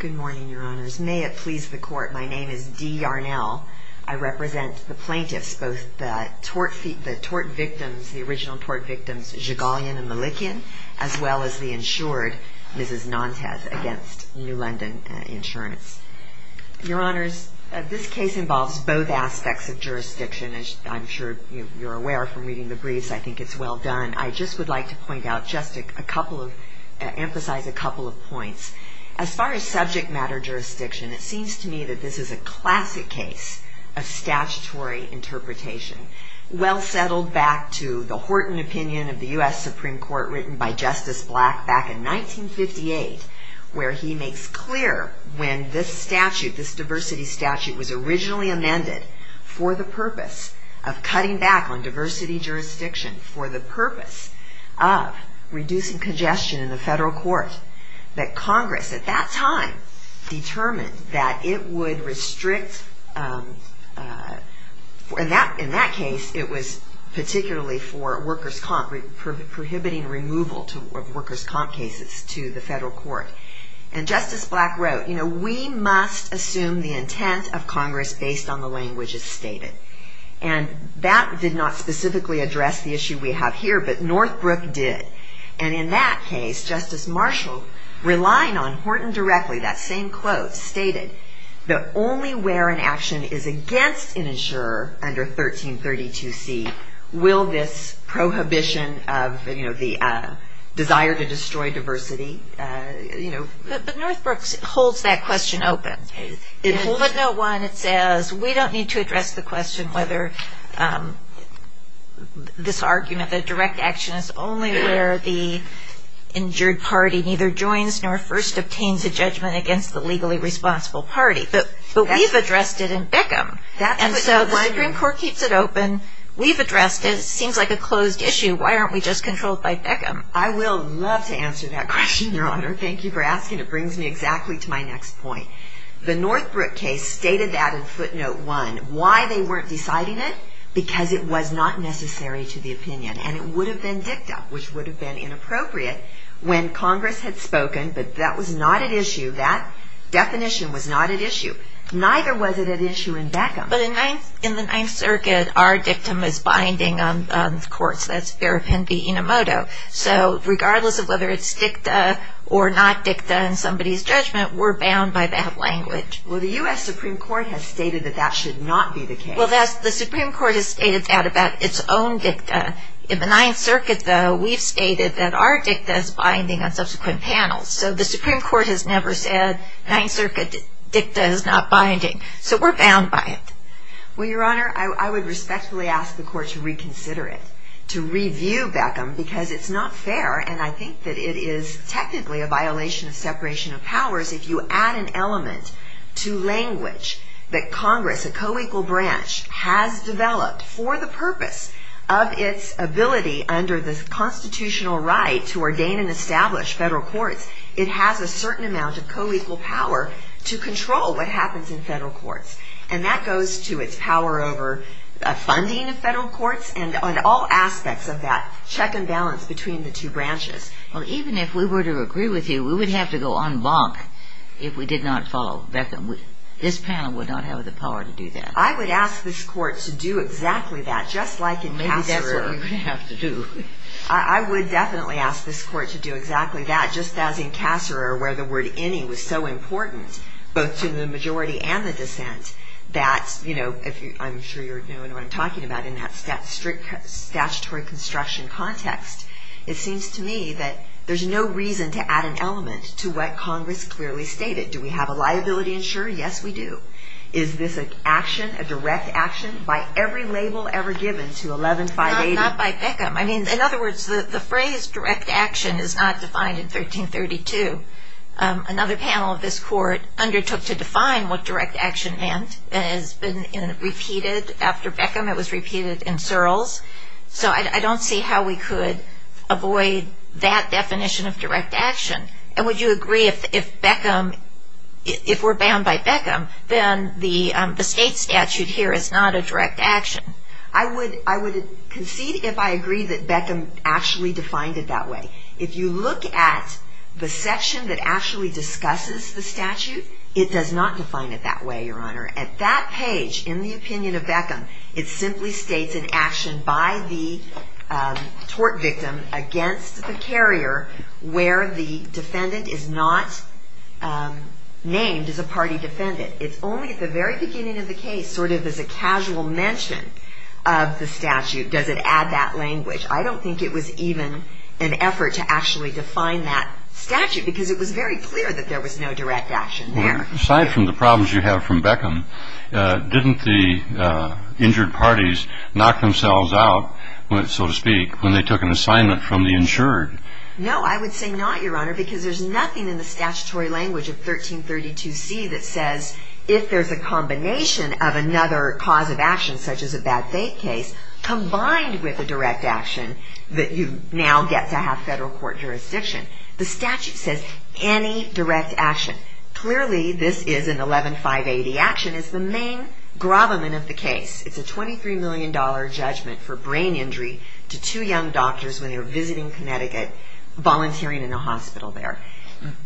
Good morning, Your Honors. May it please the Court, my name is Dee Yarnell. I represent the plaintiffs, both the tort victims, the original tort victims, Zhigalian and Malikian, as well as the insured, Mrs. Nantes, against New London Insurance. Your Honors, this case involves both aspects of jurisdiction, as I'm sure you're aware from reading the briefs, I think it's well done. I just would like to point out just a couple of, emphasize a couple of things. As far as subject matter jurisdiction, it seems to me that this is a classic case of statutory interpretation, well settled back to the Horton Opinion of the U.S. Supreme Court written by Justice Black back in 1958, where he makes clear when this statute, this diversity statute, was originally amended for the purpose of cutting back on diversity jurisdiction, for the purpose of reducing congestion in the federal court, that Congress, at that time, determined that it would restrict, in that case, it was particularly for workers' comp, prohibiting removal of workers' comp cases to the federal court. And Justice Black wrote, you know, we must assume the intent of Congress based on the languages stated. And that did not specifically address the issue we have here, but Northbrook did. And in that case, Justice Marshall, relying on Horton directly, that same quote, stated, the only where an action is against an insurer under 1332C will this prohibition of, you know, the desire to destroy diversity, you know. But Northbrook holds that question open. In Code Note 1, it says, we don't need to address the question whether this argument, the direct action, is only where the injured party neither joins nor first obtains a judgment against the legally responsible party. But we've addressed it in Beckham. And so the Supreme Court is asking, it brings me exactly to my next point. The Northbrook case stated that in Footnote 1. Why they weren't deciding it? Because it was not necessary to the opinion. And it would have been dicta, which would have been inappropriate, when Congress had spoken. But that was not at issue. That definition was not at issue. Neither was it at issue in Beckham. But in the Ninth Circuit, our dictum is binding on the courts. That's Ferrapendi-Inomoto. So regardless of whether it's dicta or not dicta in somebody's judgment, we're bound by that language. Well, the U.S. Supreme Court has stated that that should not be the case. Well, the Supreme Court has stated that about its own dicta. In the Ninth Circuit, though, we've stated that our dicta is binding on subsequent panels. So the Supreme Court is not binding. So we're bound by it. Well, Your Honor, I would respectfully ask the Court to reconsider it, to review Beckham, because it's not fair. And I think that it is technically a violation of separation of powers if you add an element to language that Congress, a co-equal branch, has developed for the purpose of its ability under the constitutional right to ordain and establish federal courts. It has a certain amount of co-equal power to control what happens in federal courts. And that goes to its power over funding of federal courts and on all aspects of that check and balance between the two branches. Well, even if we were to agree with you, we would have to go en banc if we did not follow Beckham. This panel would not have the power to do that. I would ask this Court to do exactly that, just like in Passereau. Maybe that's what we would have to do. I would definitely ask this Court to do exactly that, just as in Passereau, where the word any was so important, both to the majority and the dissent, that, you know, I'm sure you know what I'm talking about in that strict statutory construction context. It seems to me that there's no reason to add an element to what Congress clearly stated. Do we have a liability insurer? Yes, we do. Is this an action, a direct action, by every label ever given to 11-580? Not by Beckham. I mean, in other words, the phrase direct action is not defined in 1332. Another panel of this Court undertook to define what direct action meant. It has been repeated after Beckham. It was repeated in Searles. So I don't see how we could avoid that definition of direct action. And would you agree if Beckham, if we're bound by Beckham, then the state statute here is not a direct action? I would concede if I agree that Beckham actually defined it that way. If you look at the section that actually discusses the statute, it does not define it that way, Your Honor. At that page, in the opinion of Beckham, it simply states an action by the tort victim against the carrier where the defendant is not named as a party defendant. It's only at the very beginning of the case, sort of as a casual mention of the statute, does it add that language. I don't think it was even an effort to actually define that statute, because it was very clear that there was no direct action there. Aside from the problems you have from Beckham, didn't the injured parties knock themselves out, so to speak, when they took an assignment from the insured? No, I would say not, Your Honor, because there's nothing in the statutory language of 1332C that says if there's a combination of another cause of action, such as a bad faith case, combined with a direct action, that you now get to have federal court jurisdiction. The statute says any direct action. Clearly, this is an 11-580 action. It's the main case.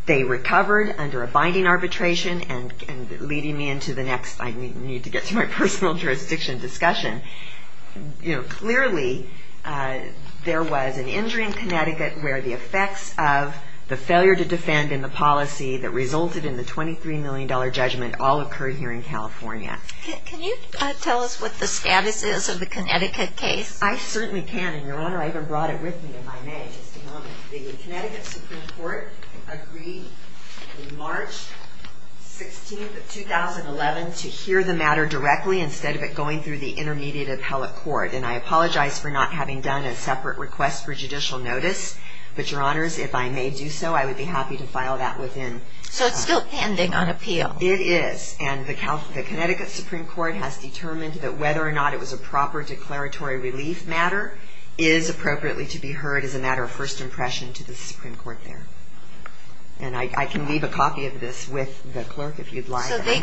They recovered under a binding arbitration, and leading me into the next, I need to get to my personal jurisdiction discussion. Clearly, there was an injury in Connecticut where the effects of the failure to defend in the policy that resulted in the $23 million judgment all occurred here in California. Can you tell us what the status is of the Connecticut case? I certainly can, and Your Honor, I even brought it with me in my mail. Just a moment. The Connecticut Supreme Court agreed on March 16th of 2011 to hear the matter directly instead of it going through the intermediate appellate court. And I apologize for not having done a separate request for judicial notice, but Your Honors, if I may do so, I would be happy to file that within So it's still pending on appeal? It is. And the Connecticut Supreme Court has determined that whether or not it was a proper declaratory relief matter is appropriately to be heard as a matter of first impression to the Supreme Court there. And I can leave a copy of this with the clerk if you'd like. So they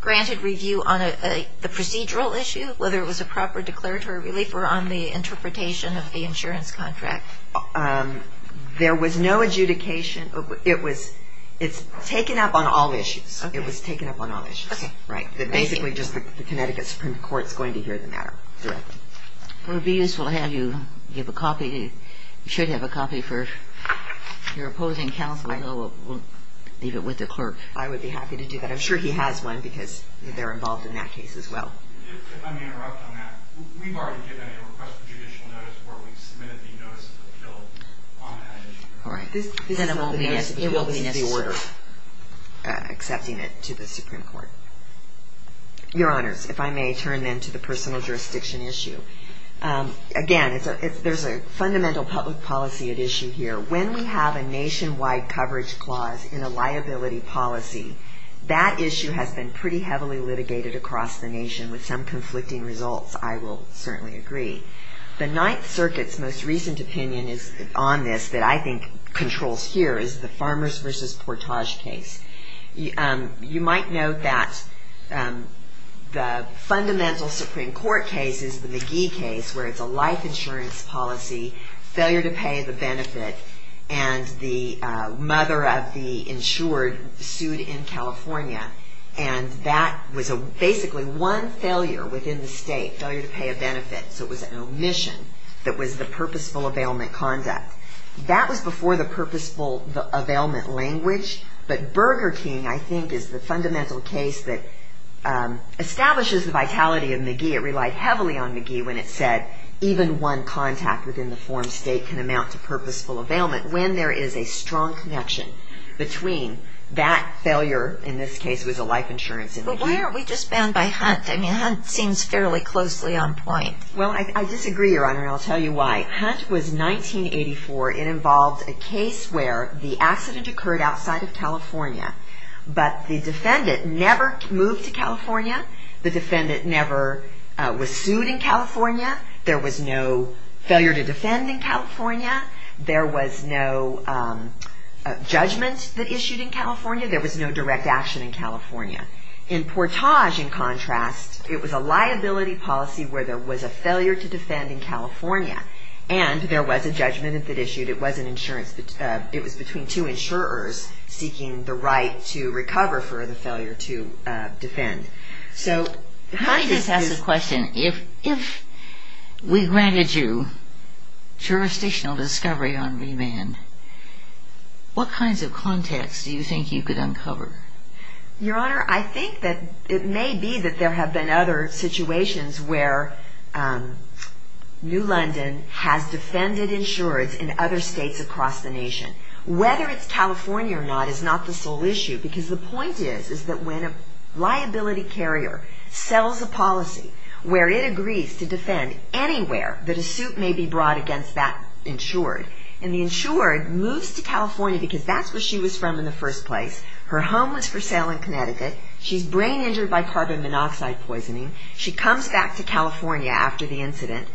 granted review on the procedural issue, whether it was a proper declaratory relief or on the interpretation of the insurance contract? There was no adjudication. It's taken up on all issues. It was taken up on all issues. Basically, just the Connecticut Supreme Court is going to hear the matter directly. Well, it would be useful to have you give a copy. You should have a copy for your opposing counsel. We'll leave it with the clerk. I would be happy to do that. I'm sure he has one because they're involved in that case as well. If I may interrupt on that, we've already given a request for judicial notice where we've submitted the notice of appeal on that issue. Right. It will be necessary. This is the order accepting it to the Supreme Court. Your Honors, if I may turn then to the personal jurisdiction issue. Again, there's a fundamental public policy at issue here. When we have a nationwide coverage clause in a liability policy, that issue has been pretty heavily litigated across the nation with some conflicting results, I will certainly agree. The Ninth Circuit's most recent opinion on this that I think controls here is the Farmers v. Portage case. You might note that the fundamental Supreme Court case is the McGee case where it's a life insurance policy, failure to pay the benefit, and the mother of the insured sued in California. That was basically one failure within the state, failure to pay a benefit, so it was an omission, that was the purposeful availment conduct. That was before the purposeful availment language, but Burger King, I think, is the fundamental case that establishes the vitality of McGee. It relied heavily on McGee when it said even one contact within the farm state can amount to purposeful availment. When there is a strong connection between that failure, in this case it was a life insurance in McGee. But why aren't we just bound by Hunt? I mean, Hunt seems fairly closely on point. Well, I disagree, Your Honor, and I'll tell you why. Hunt was 1984. It involved a case where the accident occurred outside of California, but the defendant never moved to California. The defendant never was sued in California. There was no failure to defend in California. There was no judgment that issued in California. There was no direct action in California. In Portage, in contrast, it was a liability policy where there was a failure to defend in California, and there was a judgment that issued. It was between two insurers seeking the right to recover for the failure to defend. So Hunt is... Let me just ask a question. If we granted you jurisdictional discovery on remand, what kinds of contacts do you think you could uncover? Your Honor, I think that it may be that there have been other situations where New London has defended insurers in other states across the nation. Whether it's California or not is not the sole issue, because the point is that when a liability carrier sells a policy where it agrees to defend anywhere that a suit may be brought against that insured, and the insured moves to California because that's where she was from in the first place. Her home was for sale in Connecticut. She's brain injured by carbon monoxide poisoning. She comes back to California after the incident.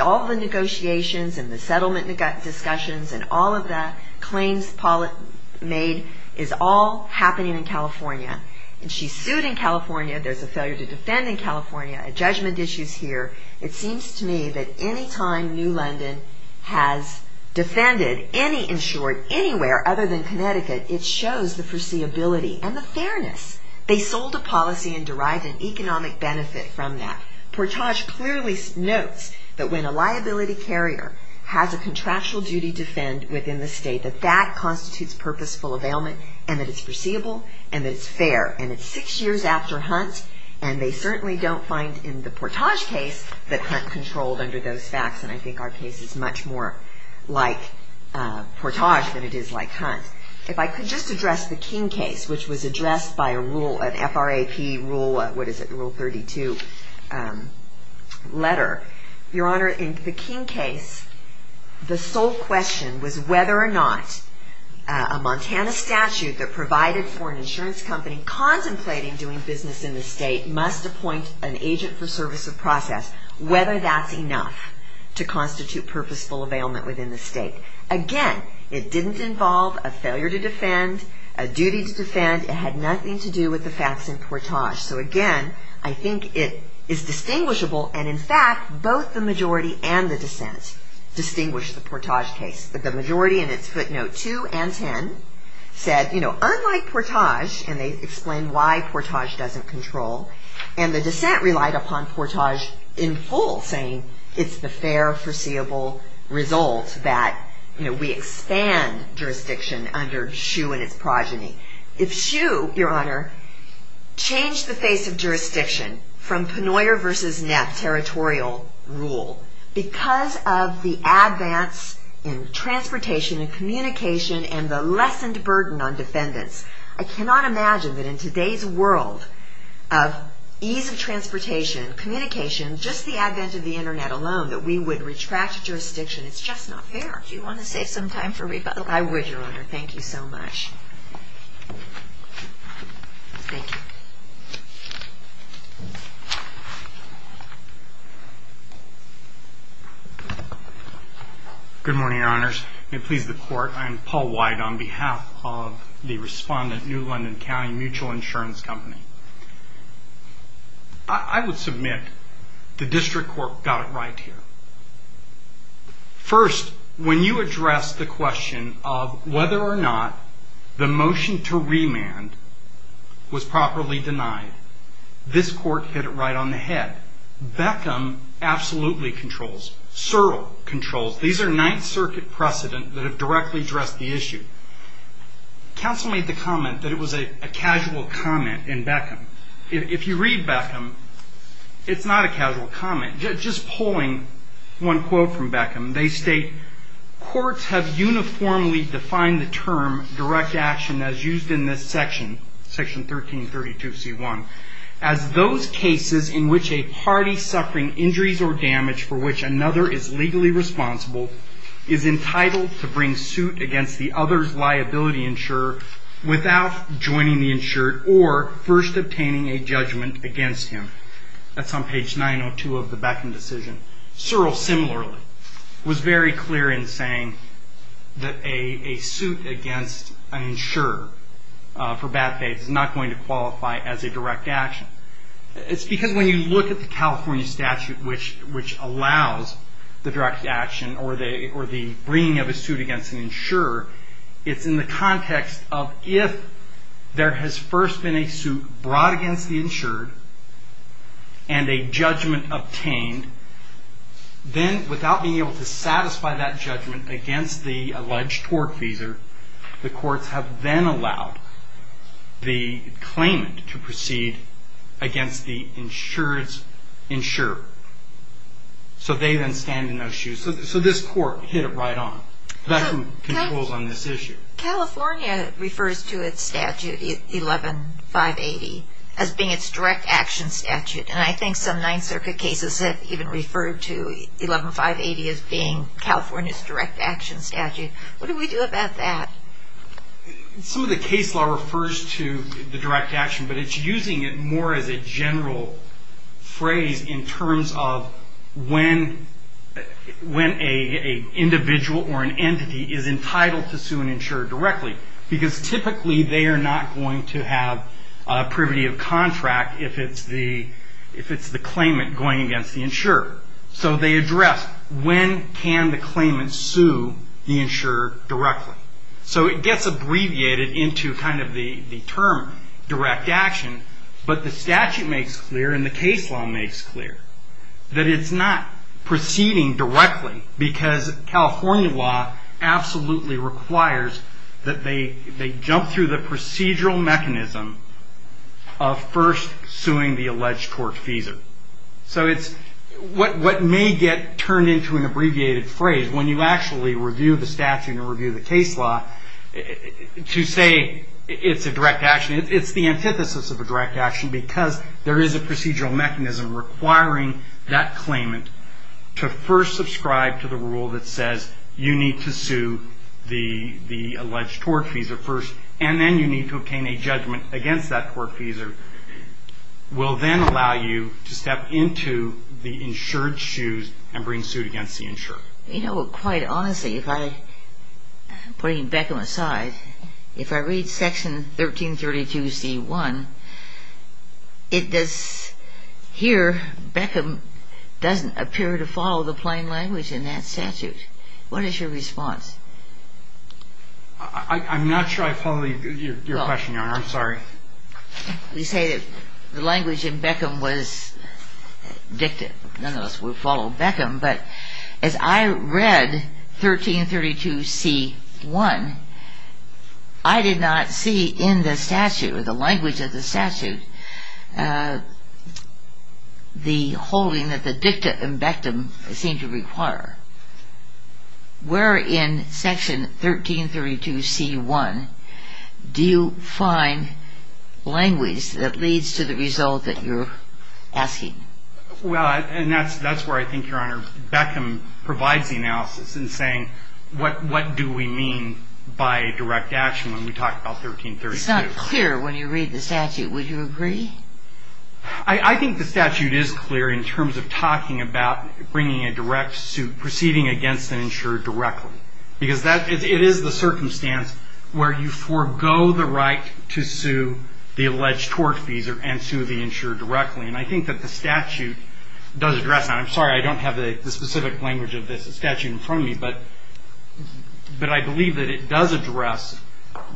All the negotiations and the settlement discussions and all of the claims made is all happening in California. And she's sued in California. There's a failure to defend in California. A judgment issue is here. It seems to me that any time New London has defended any insured anywhere other than Connecticut, it shows the foreseeability and the fairness. They sold a policy and derived an economic benefit from that. Portage clearly notes that when a liability carrier has a contractual duty to defend within the state, that that constitutes purposeful availment and that it's foreseeable and that it's fair. And it's six years after Hunt, and they certainly don't find in the Portage case that Hunt controlled under those facts. And I think our case is much more like Portage than it is like Hunt. If I could just address the King case, which was addressed by a rule, an FRAP rule, what is it, Rule 32 letter. Your Honor, in the King case, the sole question was whether or not a Montana statute that provided for an insurance company contemplating doing business in the state must appoint an agent for service of process. Whether that's enough to constitute purposeful availment within the state. Again, it didn't involve a failure to defend, a duty to defend. It had nothing to do with the facts in Portage. So again, I think it is distinguishable. And in fact, both the majority and the dissent distinguished the Portage case. The majority in its footnote 2 and 10 said, you know, unlike Portage, and they explained why Portage doesn't control. And the dissent relied upon Portage in full, saying it's the fair, foreseeable result that, you know, we expand jurisdiction under Hsu and its progeny. If Hsu, Your Honor, changed the face of jurisdiction from Penoyer versus Knapp territorial rule, because of the advance in transportation and communication and the lessened burden on defendants, I cannot imagine that in today's world of ease of transportation, communication, just the advent of the Internet alone, that we would retract jurisdiction. It's just not fair. Do you want to save some time for rebuttal? I would, Your Honor. Thank you so much. Thank you. Good morning, Your Honors. May it please the Court. I am Paul White on behalf of the respondent New London County Mutual Insurance Company. I would submit the district court got it right here. First, when you address the question of whether or not the motion to remand was properly denied, this court hit it right on the head. Beckham absolutely controls. Searle controls. These are Ninth Circuit precedent that have directly addressed the issue. Counsel made the comment that it was a casual comment in Beckham. If you read Beckham, it's not a casual comment. Just pulling one quote from Beckham, they state, courts have uniformly defined the term direct action as used in this section, section 1332C1, as those cases in which a party suffering injuries or damage for which another is legally responsible is entitled to bring suit against the other's liability without joining the insured or first obtaining a judgment against him. That's on page 902 of the Beckham decision. Searle similarly was very clear in saying that a suit against an insurer for bad faiths is not going to qualify as a direct action. It's because when you look at the California statute which allows the direct action or the bringing of a suit against an insurer, it's in the context of if there has first been a suit brought against the insured and a judgment obtained, then without being able to satisfy that judgment against the alleged tortfeasor, the courts have then allowed the claimant to proceed against the insured's insurer. So they then stand in those shoes. So this court hit it right on. Beckham controls on this issue. California refers to its statute, 11-580, as being its direct action statute, and I think some Ninth Circuit cases have even referred to 11-580 as being California's direct action statute. What do we do about that? Some of the case law refers to the direct action, but it's using it more as a general phrase in terms of when an individual or an entity is entitled to sue an insurer directly, because typically they are not going to have privity of contract if it's the claimant going against the insurer. So they address when can the claimant sue the insurer directly. So it gets abbreviated into kind of the term direct action, but the statute makes clear and the case law makes clear that it's not proceeding directly, because California law absolutely requires that they jump through the procedural mechanism of first suing the alleged tortfeasor. So what may get turned into an abbreviated phrase, when you actually review the statute and review the case law, to say it's a direct action, it's the antithesis of a direct action, because there is a procedural mechanism requiring that claimant to first subscribe to the rule that says you need to sue the alleged tortfeasor first, and then you need to obtain a judgment against that tortfeasor, will then allow you to step into the insured shoes and bring suit against the insurer. You know, quite honestly, if I, putting Beckham aside, if I read section 1332C1, it does, here Beckham doesn't appear to follow the plain language in that statute. What is your response? I'm not sure I follow your question, Your Honor. I'm sorry. We say that the language in Beckham was dicta. None of us would follow Beckham, but as I read 1332C1, I did not see in the statute, or the language of the statute, the holding that the dicta and bectum seem to require. Where in section 1332C1 do you find language that leads to the result that you're asking? Well, and that's where I think, Your Honor, Beckham provides the analysis in saying, what do we mean by direct action when we talk about 1332? It's not clear when you read the statute. Would you agree? I think the statute is clear in terms of talking about bringing a direct suit, proceeding against an insurer directly, because it is the circumstance where you forego the right to sue the alleged tortfeasor and sue the insurer directly, and I think that the statute does address that. I'm sorry I don't have the specific language of this statute in front of me, but I believe that it does address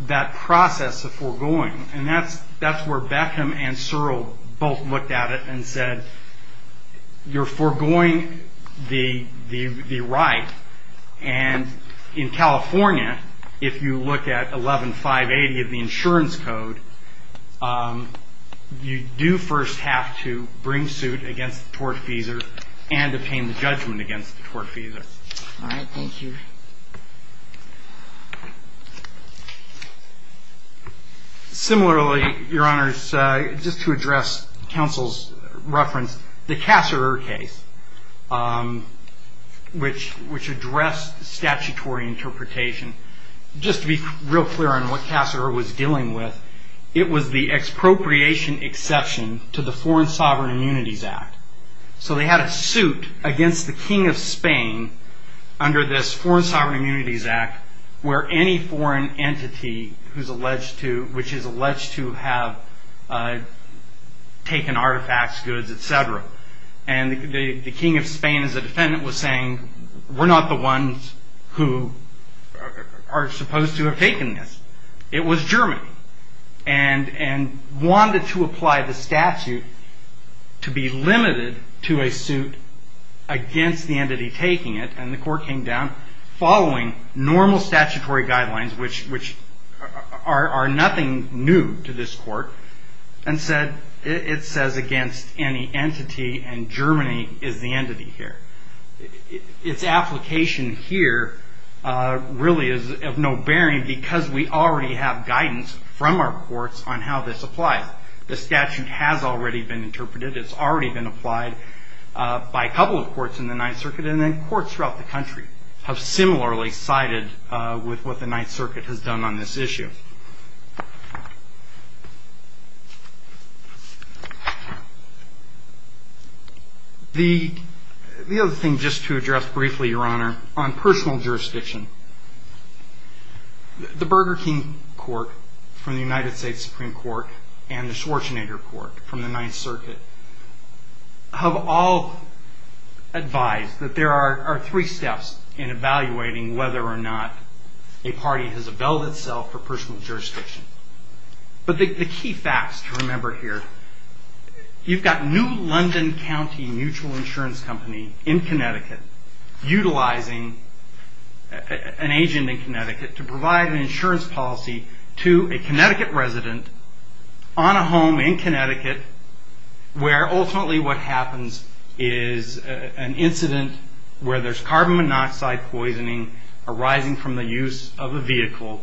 that process of foregoing, and that's where Beckham and Searle both looked at it and said, you're foregoing the right, and in California, if you look at 11580 of the insurance code, you do first have to bring suit against the tortfeasor and obtain the judgment against the tortfeasor. All right. Thank you. Similarly, Your Honors, just to address counsel's reference, the Casserer case, which addressed statutory interpretation, just to be real clear on what Casserer was dealing with, it was the expropriation exception to the Foreign Sovereign Immunities Act. So they had a suit against the King of Spain under this Foreign Sovereign Immunities Act where any foreign entity which is alleged to have taken artifacts, goods, et cetera, and the King of Spain as a defendant was saying, we're not the ones who are supposed to have taken this. It was Germany and wanted to apply the statute to be limited to a suit against the entity taking it, and the court came down following normal statutory guidelines, which are nothing new to this court, and said, it says against any entity and Germany is the entity here. Its application here really is of no bearing because we already have guidance from our courts on how this applies. The statute has already been interpreted. It's already been applied by a couple of courts in the Ninth Circuit, and then courts throughout the country have similarly sided with what the Ninth Circuit has done on this issue. The other thing, just to address briefly, Your Honor, on personal jurisdiction, the Burger King Court from the United States Supreme Court and the Schwarzenegger Court from the Ninth Circuit have all advised that there are three steps in evaluating whether or not a party has availed itself for personal jurisdiction. But the key facts to remember here, you've got New London County Mutual Insurance Company in Connecticut utilizing an agent in Connecticut to provide an insurance policy to a Connecticut resident on a home in Connecticut where ultimately what happens is an incident where there's carbon monoxide poisoning arising from the use of a vehicle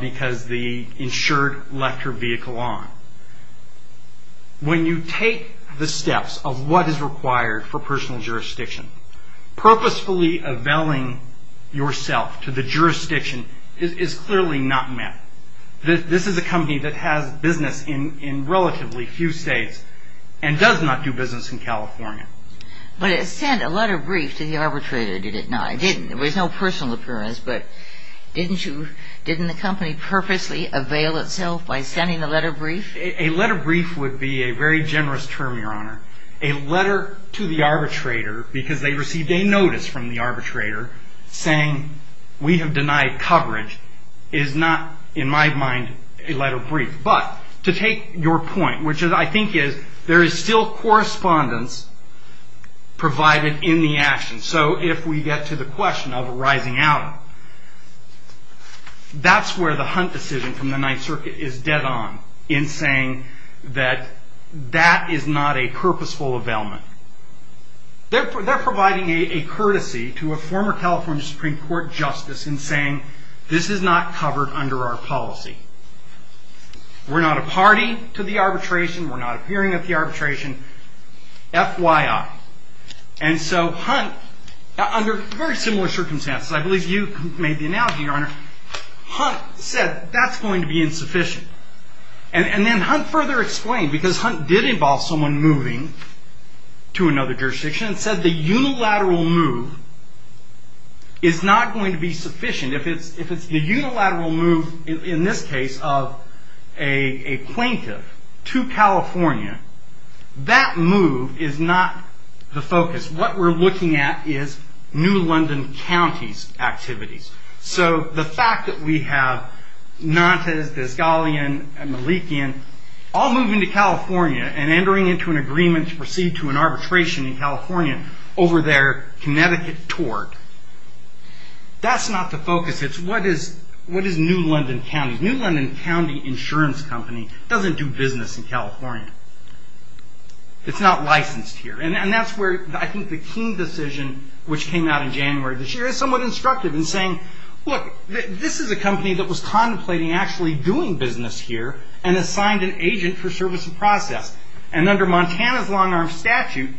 because the insured left her vehicle on. When you take the steps of what is required for personal jurisdiction, purposefully availing yourself to the jurisdiction is clearly not met. This is a company that has business in relatively few states and does not do business in California. But it sent a letter of brief to the arbitrator, did it not? It didn't. There was no personal appearance, but didn't the company purposely avail itself by sending a letter of brief? A letter of brief would be a very generous term, Your Honor. A letter to the arbitrator because they received a notice from the arbitrator saying we have denied coverage is not, in my mind, a letter of brief. But to take your point, which I think is there is still correspondence provided in the action. So if we get to the question of rising out, that's where the Hunt decision from the Ninth Circuit is dead on in saying that that is not a purposeful availment. They're providing a courtesy to a former California Supreme Court justice in saying this is not covered under our policy. We're not a party to the arbitration. We're not appearing at the arbitration. FYI. And so Hunt, under very similar circumstances, I believe you made the analogy, Your Honor, Hunt said that's going to be insufficient. And then Hunt further explained, because Hunt did involve someone moving to another jurisdiction, and said the unilateral move is not going to be sufficient. If it's the unilateral move, in this case, of a plaintiff to California, that move is not the focus. What we're looking at is New London County's activities. So the fact that we have Nantes, Desgalian, and Malikian all moving to California and entering into an agreement to proceed to an arbitration in California over their Connecticut tort, that's not the focus. It's what is New London County? New London County Insurance Company doesn't do business in California. It's not licensed here. And that's where I think the Keene decision, which came out in January of this year, is somewhat instructive in saying, look, this is a company that was contemplating actually doing business here and assigned an agent for service and process. And under Montana's long-arm statute,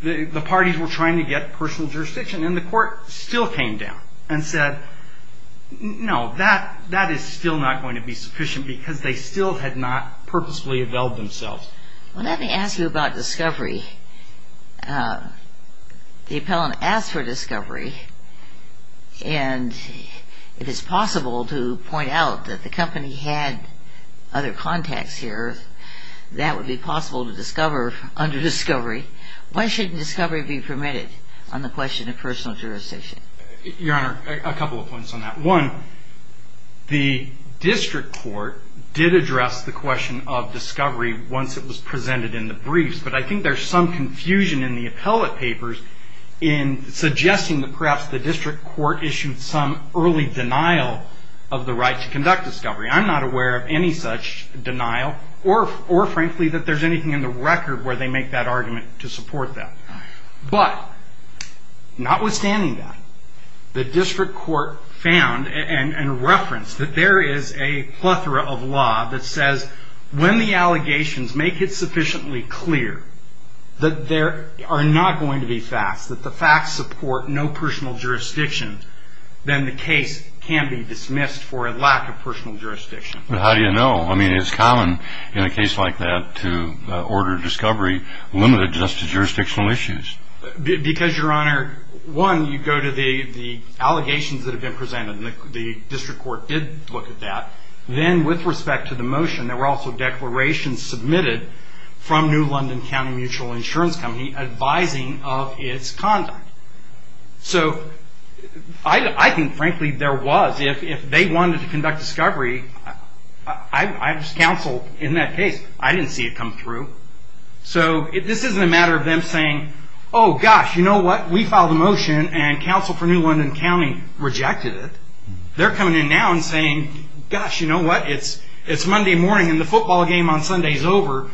the parties were trying to get personal jurisdiction, and the court still came down and said, no, that is still not going to be sufficient because they still had not purposefully availed themselves. Let me ask you about discovery. The appellant asked for discovery, and if it's possible to point out that the company had other contacts here, that that would be possible to discover under discovery, why shouldn't discovery be permitted on the question of personal jurisdiction? Your Honor, a couple of points on that. One, the district court did address the question of discovery once it was presented in the briefs, but I think there's some confusion in the appellate papers in suggesting that perhaps the district court issued some early denial of the right to conduct discovery. I'm not aware of any such denial, or frankly that there's anything in the record where they make that argument to support that. But notwithstanding that, the district court found and referenced that there is a plethora of law that says when the allegations make it sufficiently clear that there are not going to be facts, that the facts support no personal jurisdiction, then the case can be dismissed for a lack of personal jurisdiction. But how do you know? I mean, it's common in a case like that to order discovery limited just to jurisdictional issues. Because, Your Honor, one, you go to the allegations that have been presented, and the district court did look at that. Then with respect to the motion, there were also declarations submitted from New London County Mutual Insurance Company advising of its conduct. So I think, frankly, there was. If they wanted to conduct discovery, I was counsel in that case. I didn't see it come through. So this isn't a matter of them saying, Oh, gosh, you know what? We filed a motion, and counsel for New London County rejected it. They're coming in now and saying, Gosh, you know what? It's Monday morning, and the football game on Sunday is over.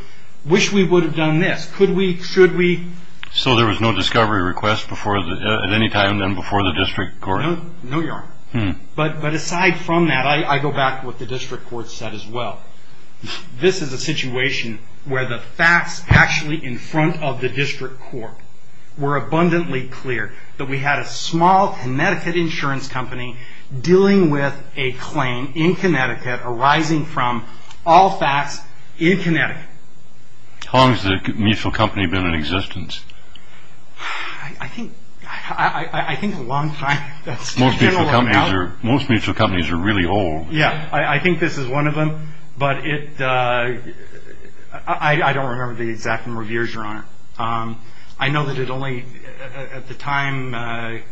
Wish we would have done this. Could we? Should we? So there was no discovery request at any time then before the district court? No, Your Honor. But aside from that, I go back to what the district court said as well. This is a situation where the facts actually in front of the district court were abundantly clear that we had a small Connecticut insurance company dealing with a claim in Connecticut arising from all facts in Connecticut. How long has the mutual company been in existence? I think a long time. Most mutual companies are really old. Yeah, I think this is one of them. But I don't remember the exact number of years, Your Honor. I know that at the time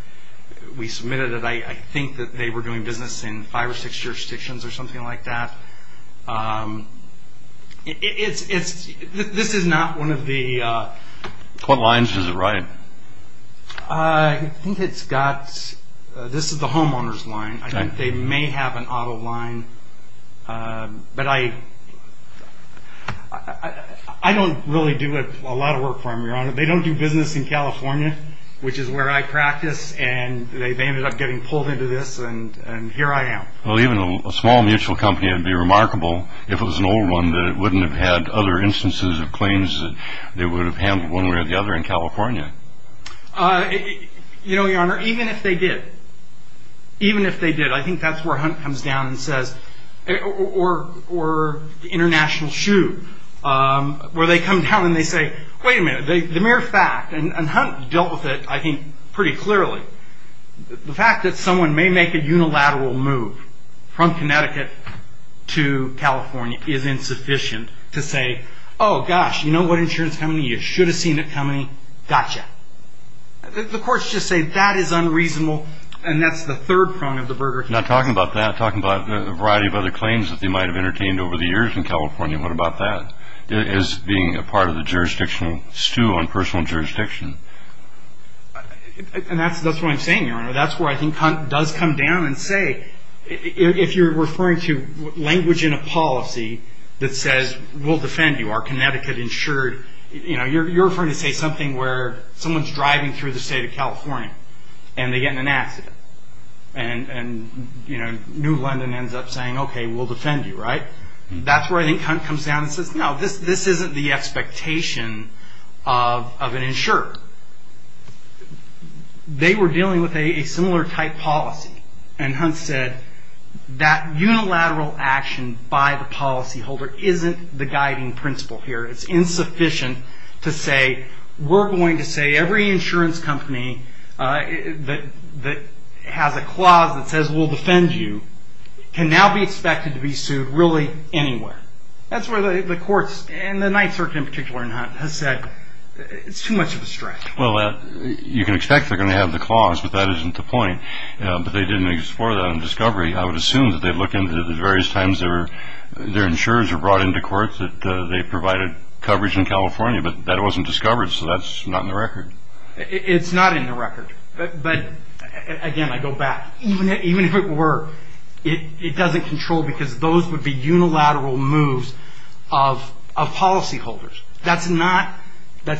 we submitted it, I think that they were doing business in five or six jurisdictions or something like that. This is not one of the... What lines does it ride? I think it's got, this is the homeowner's line. They may have an auto line. But I don't really do a lot of work for them, Your Honor. They don't do business in California, which is where I practice, and they ended up getting pulled into this, and here I am. Well, even a small mutual company would be remarkable if it was an old one that wouldn't have had other instances of claims that they would have handled one way or the other in California. You know, Your Honor, even if they did, even if they did, I think that's where Hunt comes down and says, or the international shoe, where they come down and they say, wait a minute, the mere fact, and Hunt dealt with it, I think, pretty clearly, the fact that someone may make a unilateral move from Connecticut to California is insufficient to say, oh, gosh, you know what insurance company? You should have seen it coming. Gotcha. The courts just say that is unreasonable, and that's the third prong of the burger. Not talking about that. Talking about a variety of other claims that they might have entertained over the years in California. What about that as being a part of the jurisdictional stew on personal jurisdiction? And that's what I'm saying, Your Honor. That's where I think Hunt does come down and say, if you're referring to language in a policy that says, we'll defend you, our Connecticut insured, you're referring to say something where someone's driving through the state of California, and they get in an accident, and New London ends up saying, okay, we'll defend you, right? That's where I think Hunt comes down and says, no, this isn't the expectation of an insurer. They were dealing with a similar type policy, and Hunt said that unilateral action by the policyholder isn't the guiding principle here. It's insufficient to say, we're going to say every insurance company that has a clause that says we'll defend you can now be expected to be sued really anywhere. That's where the courts, and the Ninth Circuit in particular, has said it's too much of a stretch. Well, you can expect they're going to have the clause, but that isn't the point. But they didn't explore that in discovery. I would assume that they'd look into the various times their insurers were brought into court that they provided coverage in California, but that wasn't discovered, so that's not in the record. It's not in the record. But again, I go back. Even if it were, it doesn't control because those would be unilateral moves of policyholders. That's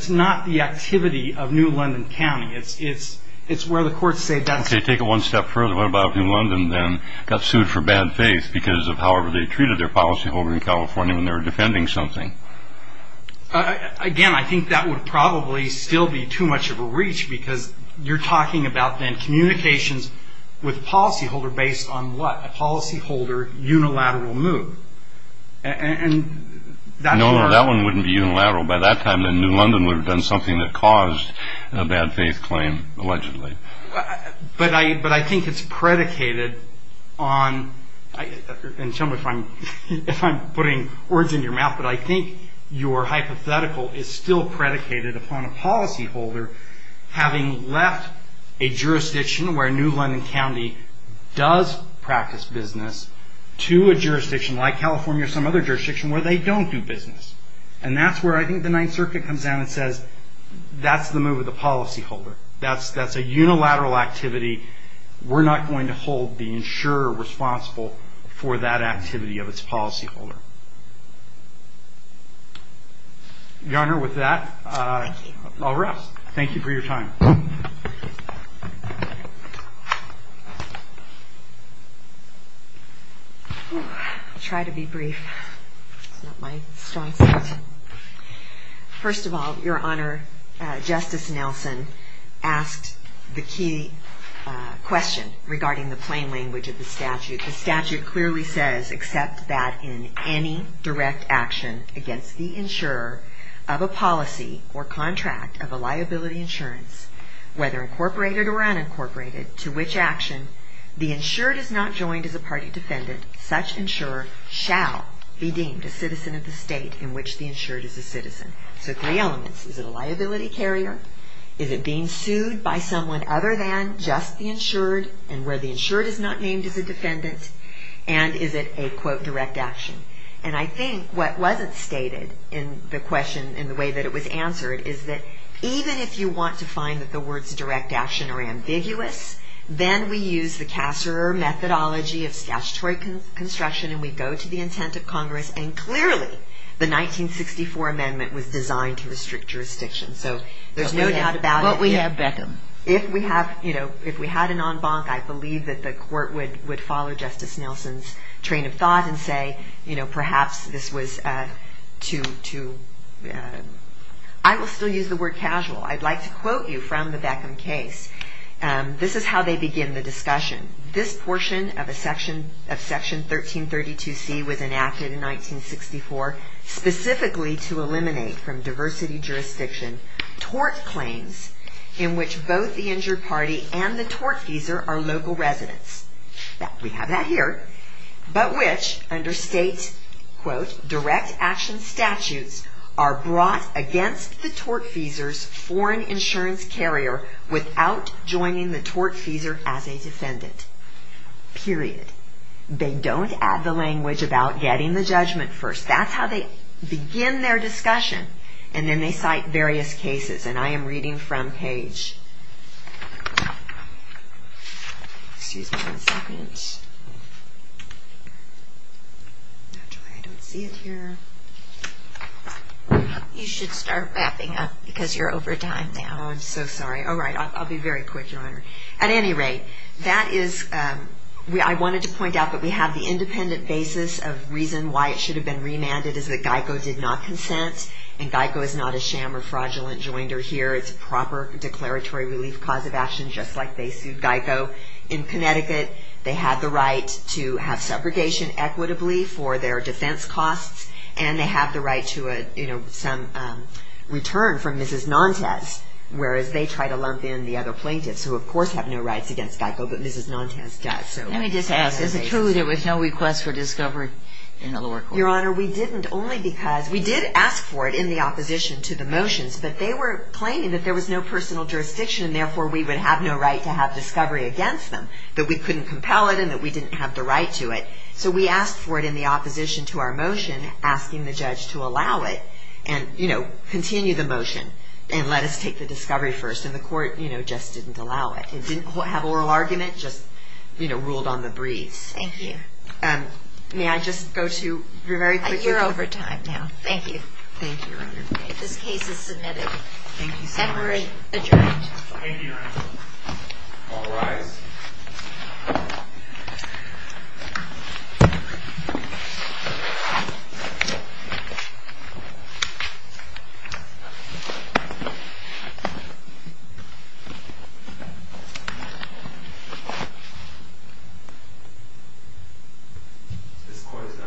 not the activity of New London County. It's where the courts say that's... Okay, take it one step further. What about if New London then got sued for bad faith because of however they treated their policyholder in California when they were defending something? Again, I think that would probably still be too much of a reach because you're talking about then communications with a policyholder based on what? A policyholder unilateral move. No, no, that one wouldn't be unilateral. By that time, then, New London would have done something that caused a bad faith claim, allegedly. But I think it's predicated on... And tell me if I'm putting words in your mouth, but I think your hypothetical is still predicated upon a policyholder having left a jurisdiction where New London County does practice business to a jurisdiction like California or some other jurisdiction where they don't do business. And that's where I think the Ninth Circuit comes down and says that's the move of the policyholder. That's a unilateral activity. We're not going to hold the insurer responsible for that activity of its policyholder. Your Honor, with that, I'll rest. Thank you for your time. I'll try to be brief. It's not my strong suit. First of all, Your Honor, Justice Nelson asked the key question regarding the plain language of the statute. The statute clearly says, except that in any direct action against the insurer of a policy or contract of a liability insurance, whether incorporated or unincorporated, to which action the insured is not joined as a party defendant, such insurer shall be deemed a citizen of the state in which the insured is a citizen. So three elements. Is it being sued by someone other than just the insured? And where the insured is not named as a defendant? And is it a, quote, direct action? And I think what wasn't stated in the question in the way that it was answered is that even if you want to find that the words direct action are ambiguous, then we use the Kasserer methodology of statutory construction and we go to the intent of Congress, and clearly the 1964 amendment was designed to restrict jurisdiction. So there's no doubt about it. But we have Beckham. If we had an en banc, I believe that the court would follow Justice Nelson's train of thought and say, you know, perhaps this was too... I will still use the word casual. I'd like to quote you from the Beckham case. This is how they begin the discussion. This portion of Section 1332C was enacted in 1964 specifically to eliminate from diversity jurisdiction tort claims in which both the injured party and the tortfeasor are local residents. We have that here. But which, under state, quote, direct action statutes are brought against the tortfeasor's foreign insurance carrier without joining the tortfeasor as a defendant. Period. They don't add the language about getting the judgment first. That's how they begin their discussion. And then they cite various cases. And I am reading from page... Excuse me one second. Naturally I don't see it here. You should start wrapping up because you're over time now. I'm so sorry. All right, I'll be very quick, Your Honor. At any rate, that is... I wanted to point out that we have the independent basis of reason why it should have been remanded is that GEICO did not consent. And GEICO is not a sham or fraudulent joinder here. It's a proper declaratory relief cause of action just like they sued GEICO in Connecticut. They have the right to have segregation equitably for their defense costs. And they have the right to some return from Mrs. Nantes, whereas they try to lump in the other plaintiffs who, of course, have no rights against GEICO, but Mrs. Nantes does. Let me just ask. Is it true there was no request for discovery in the lower court? Your Honor, we didn't only because... We did ask for it in the opposition to the motions, but they were claiming that there was no personal jurisdiction and therefore we would have no right to have discovery against them, that we couldn't compel it and that we didn't have the right to it. So we asked for it in the opposition to our motion, asking the judge to allow it and, you know, continue the motion and let us take the discovery first. And the court, you know, just didn't allow it. It didn't have oral argument, just, you know, ruled on the breeze. Thank you. May I just go to... You're over time now. Thank you. Thank you, Your Honor. This case is submitted. Thank you so much. And we're adjourned. Thank you, Your Honor. All rise. This court is now adjourned.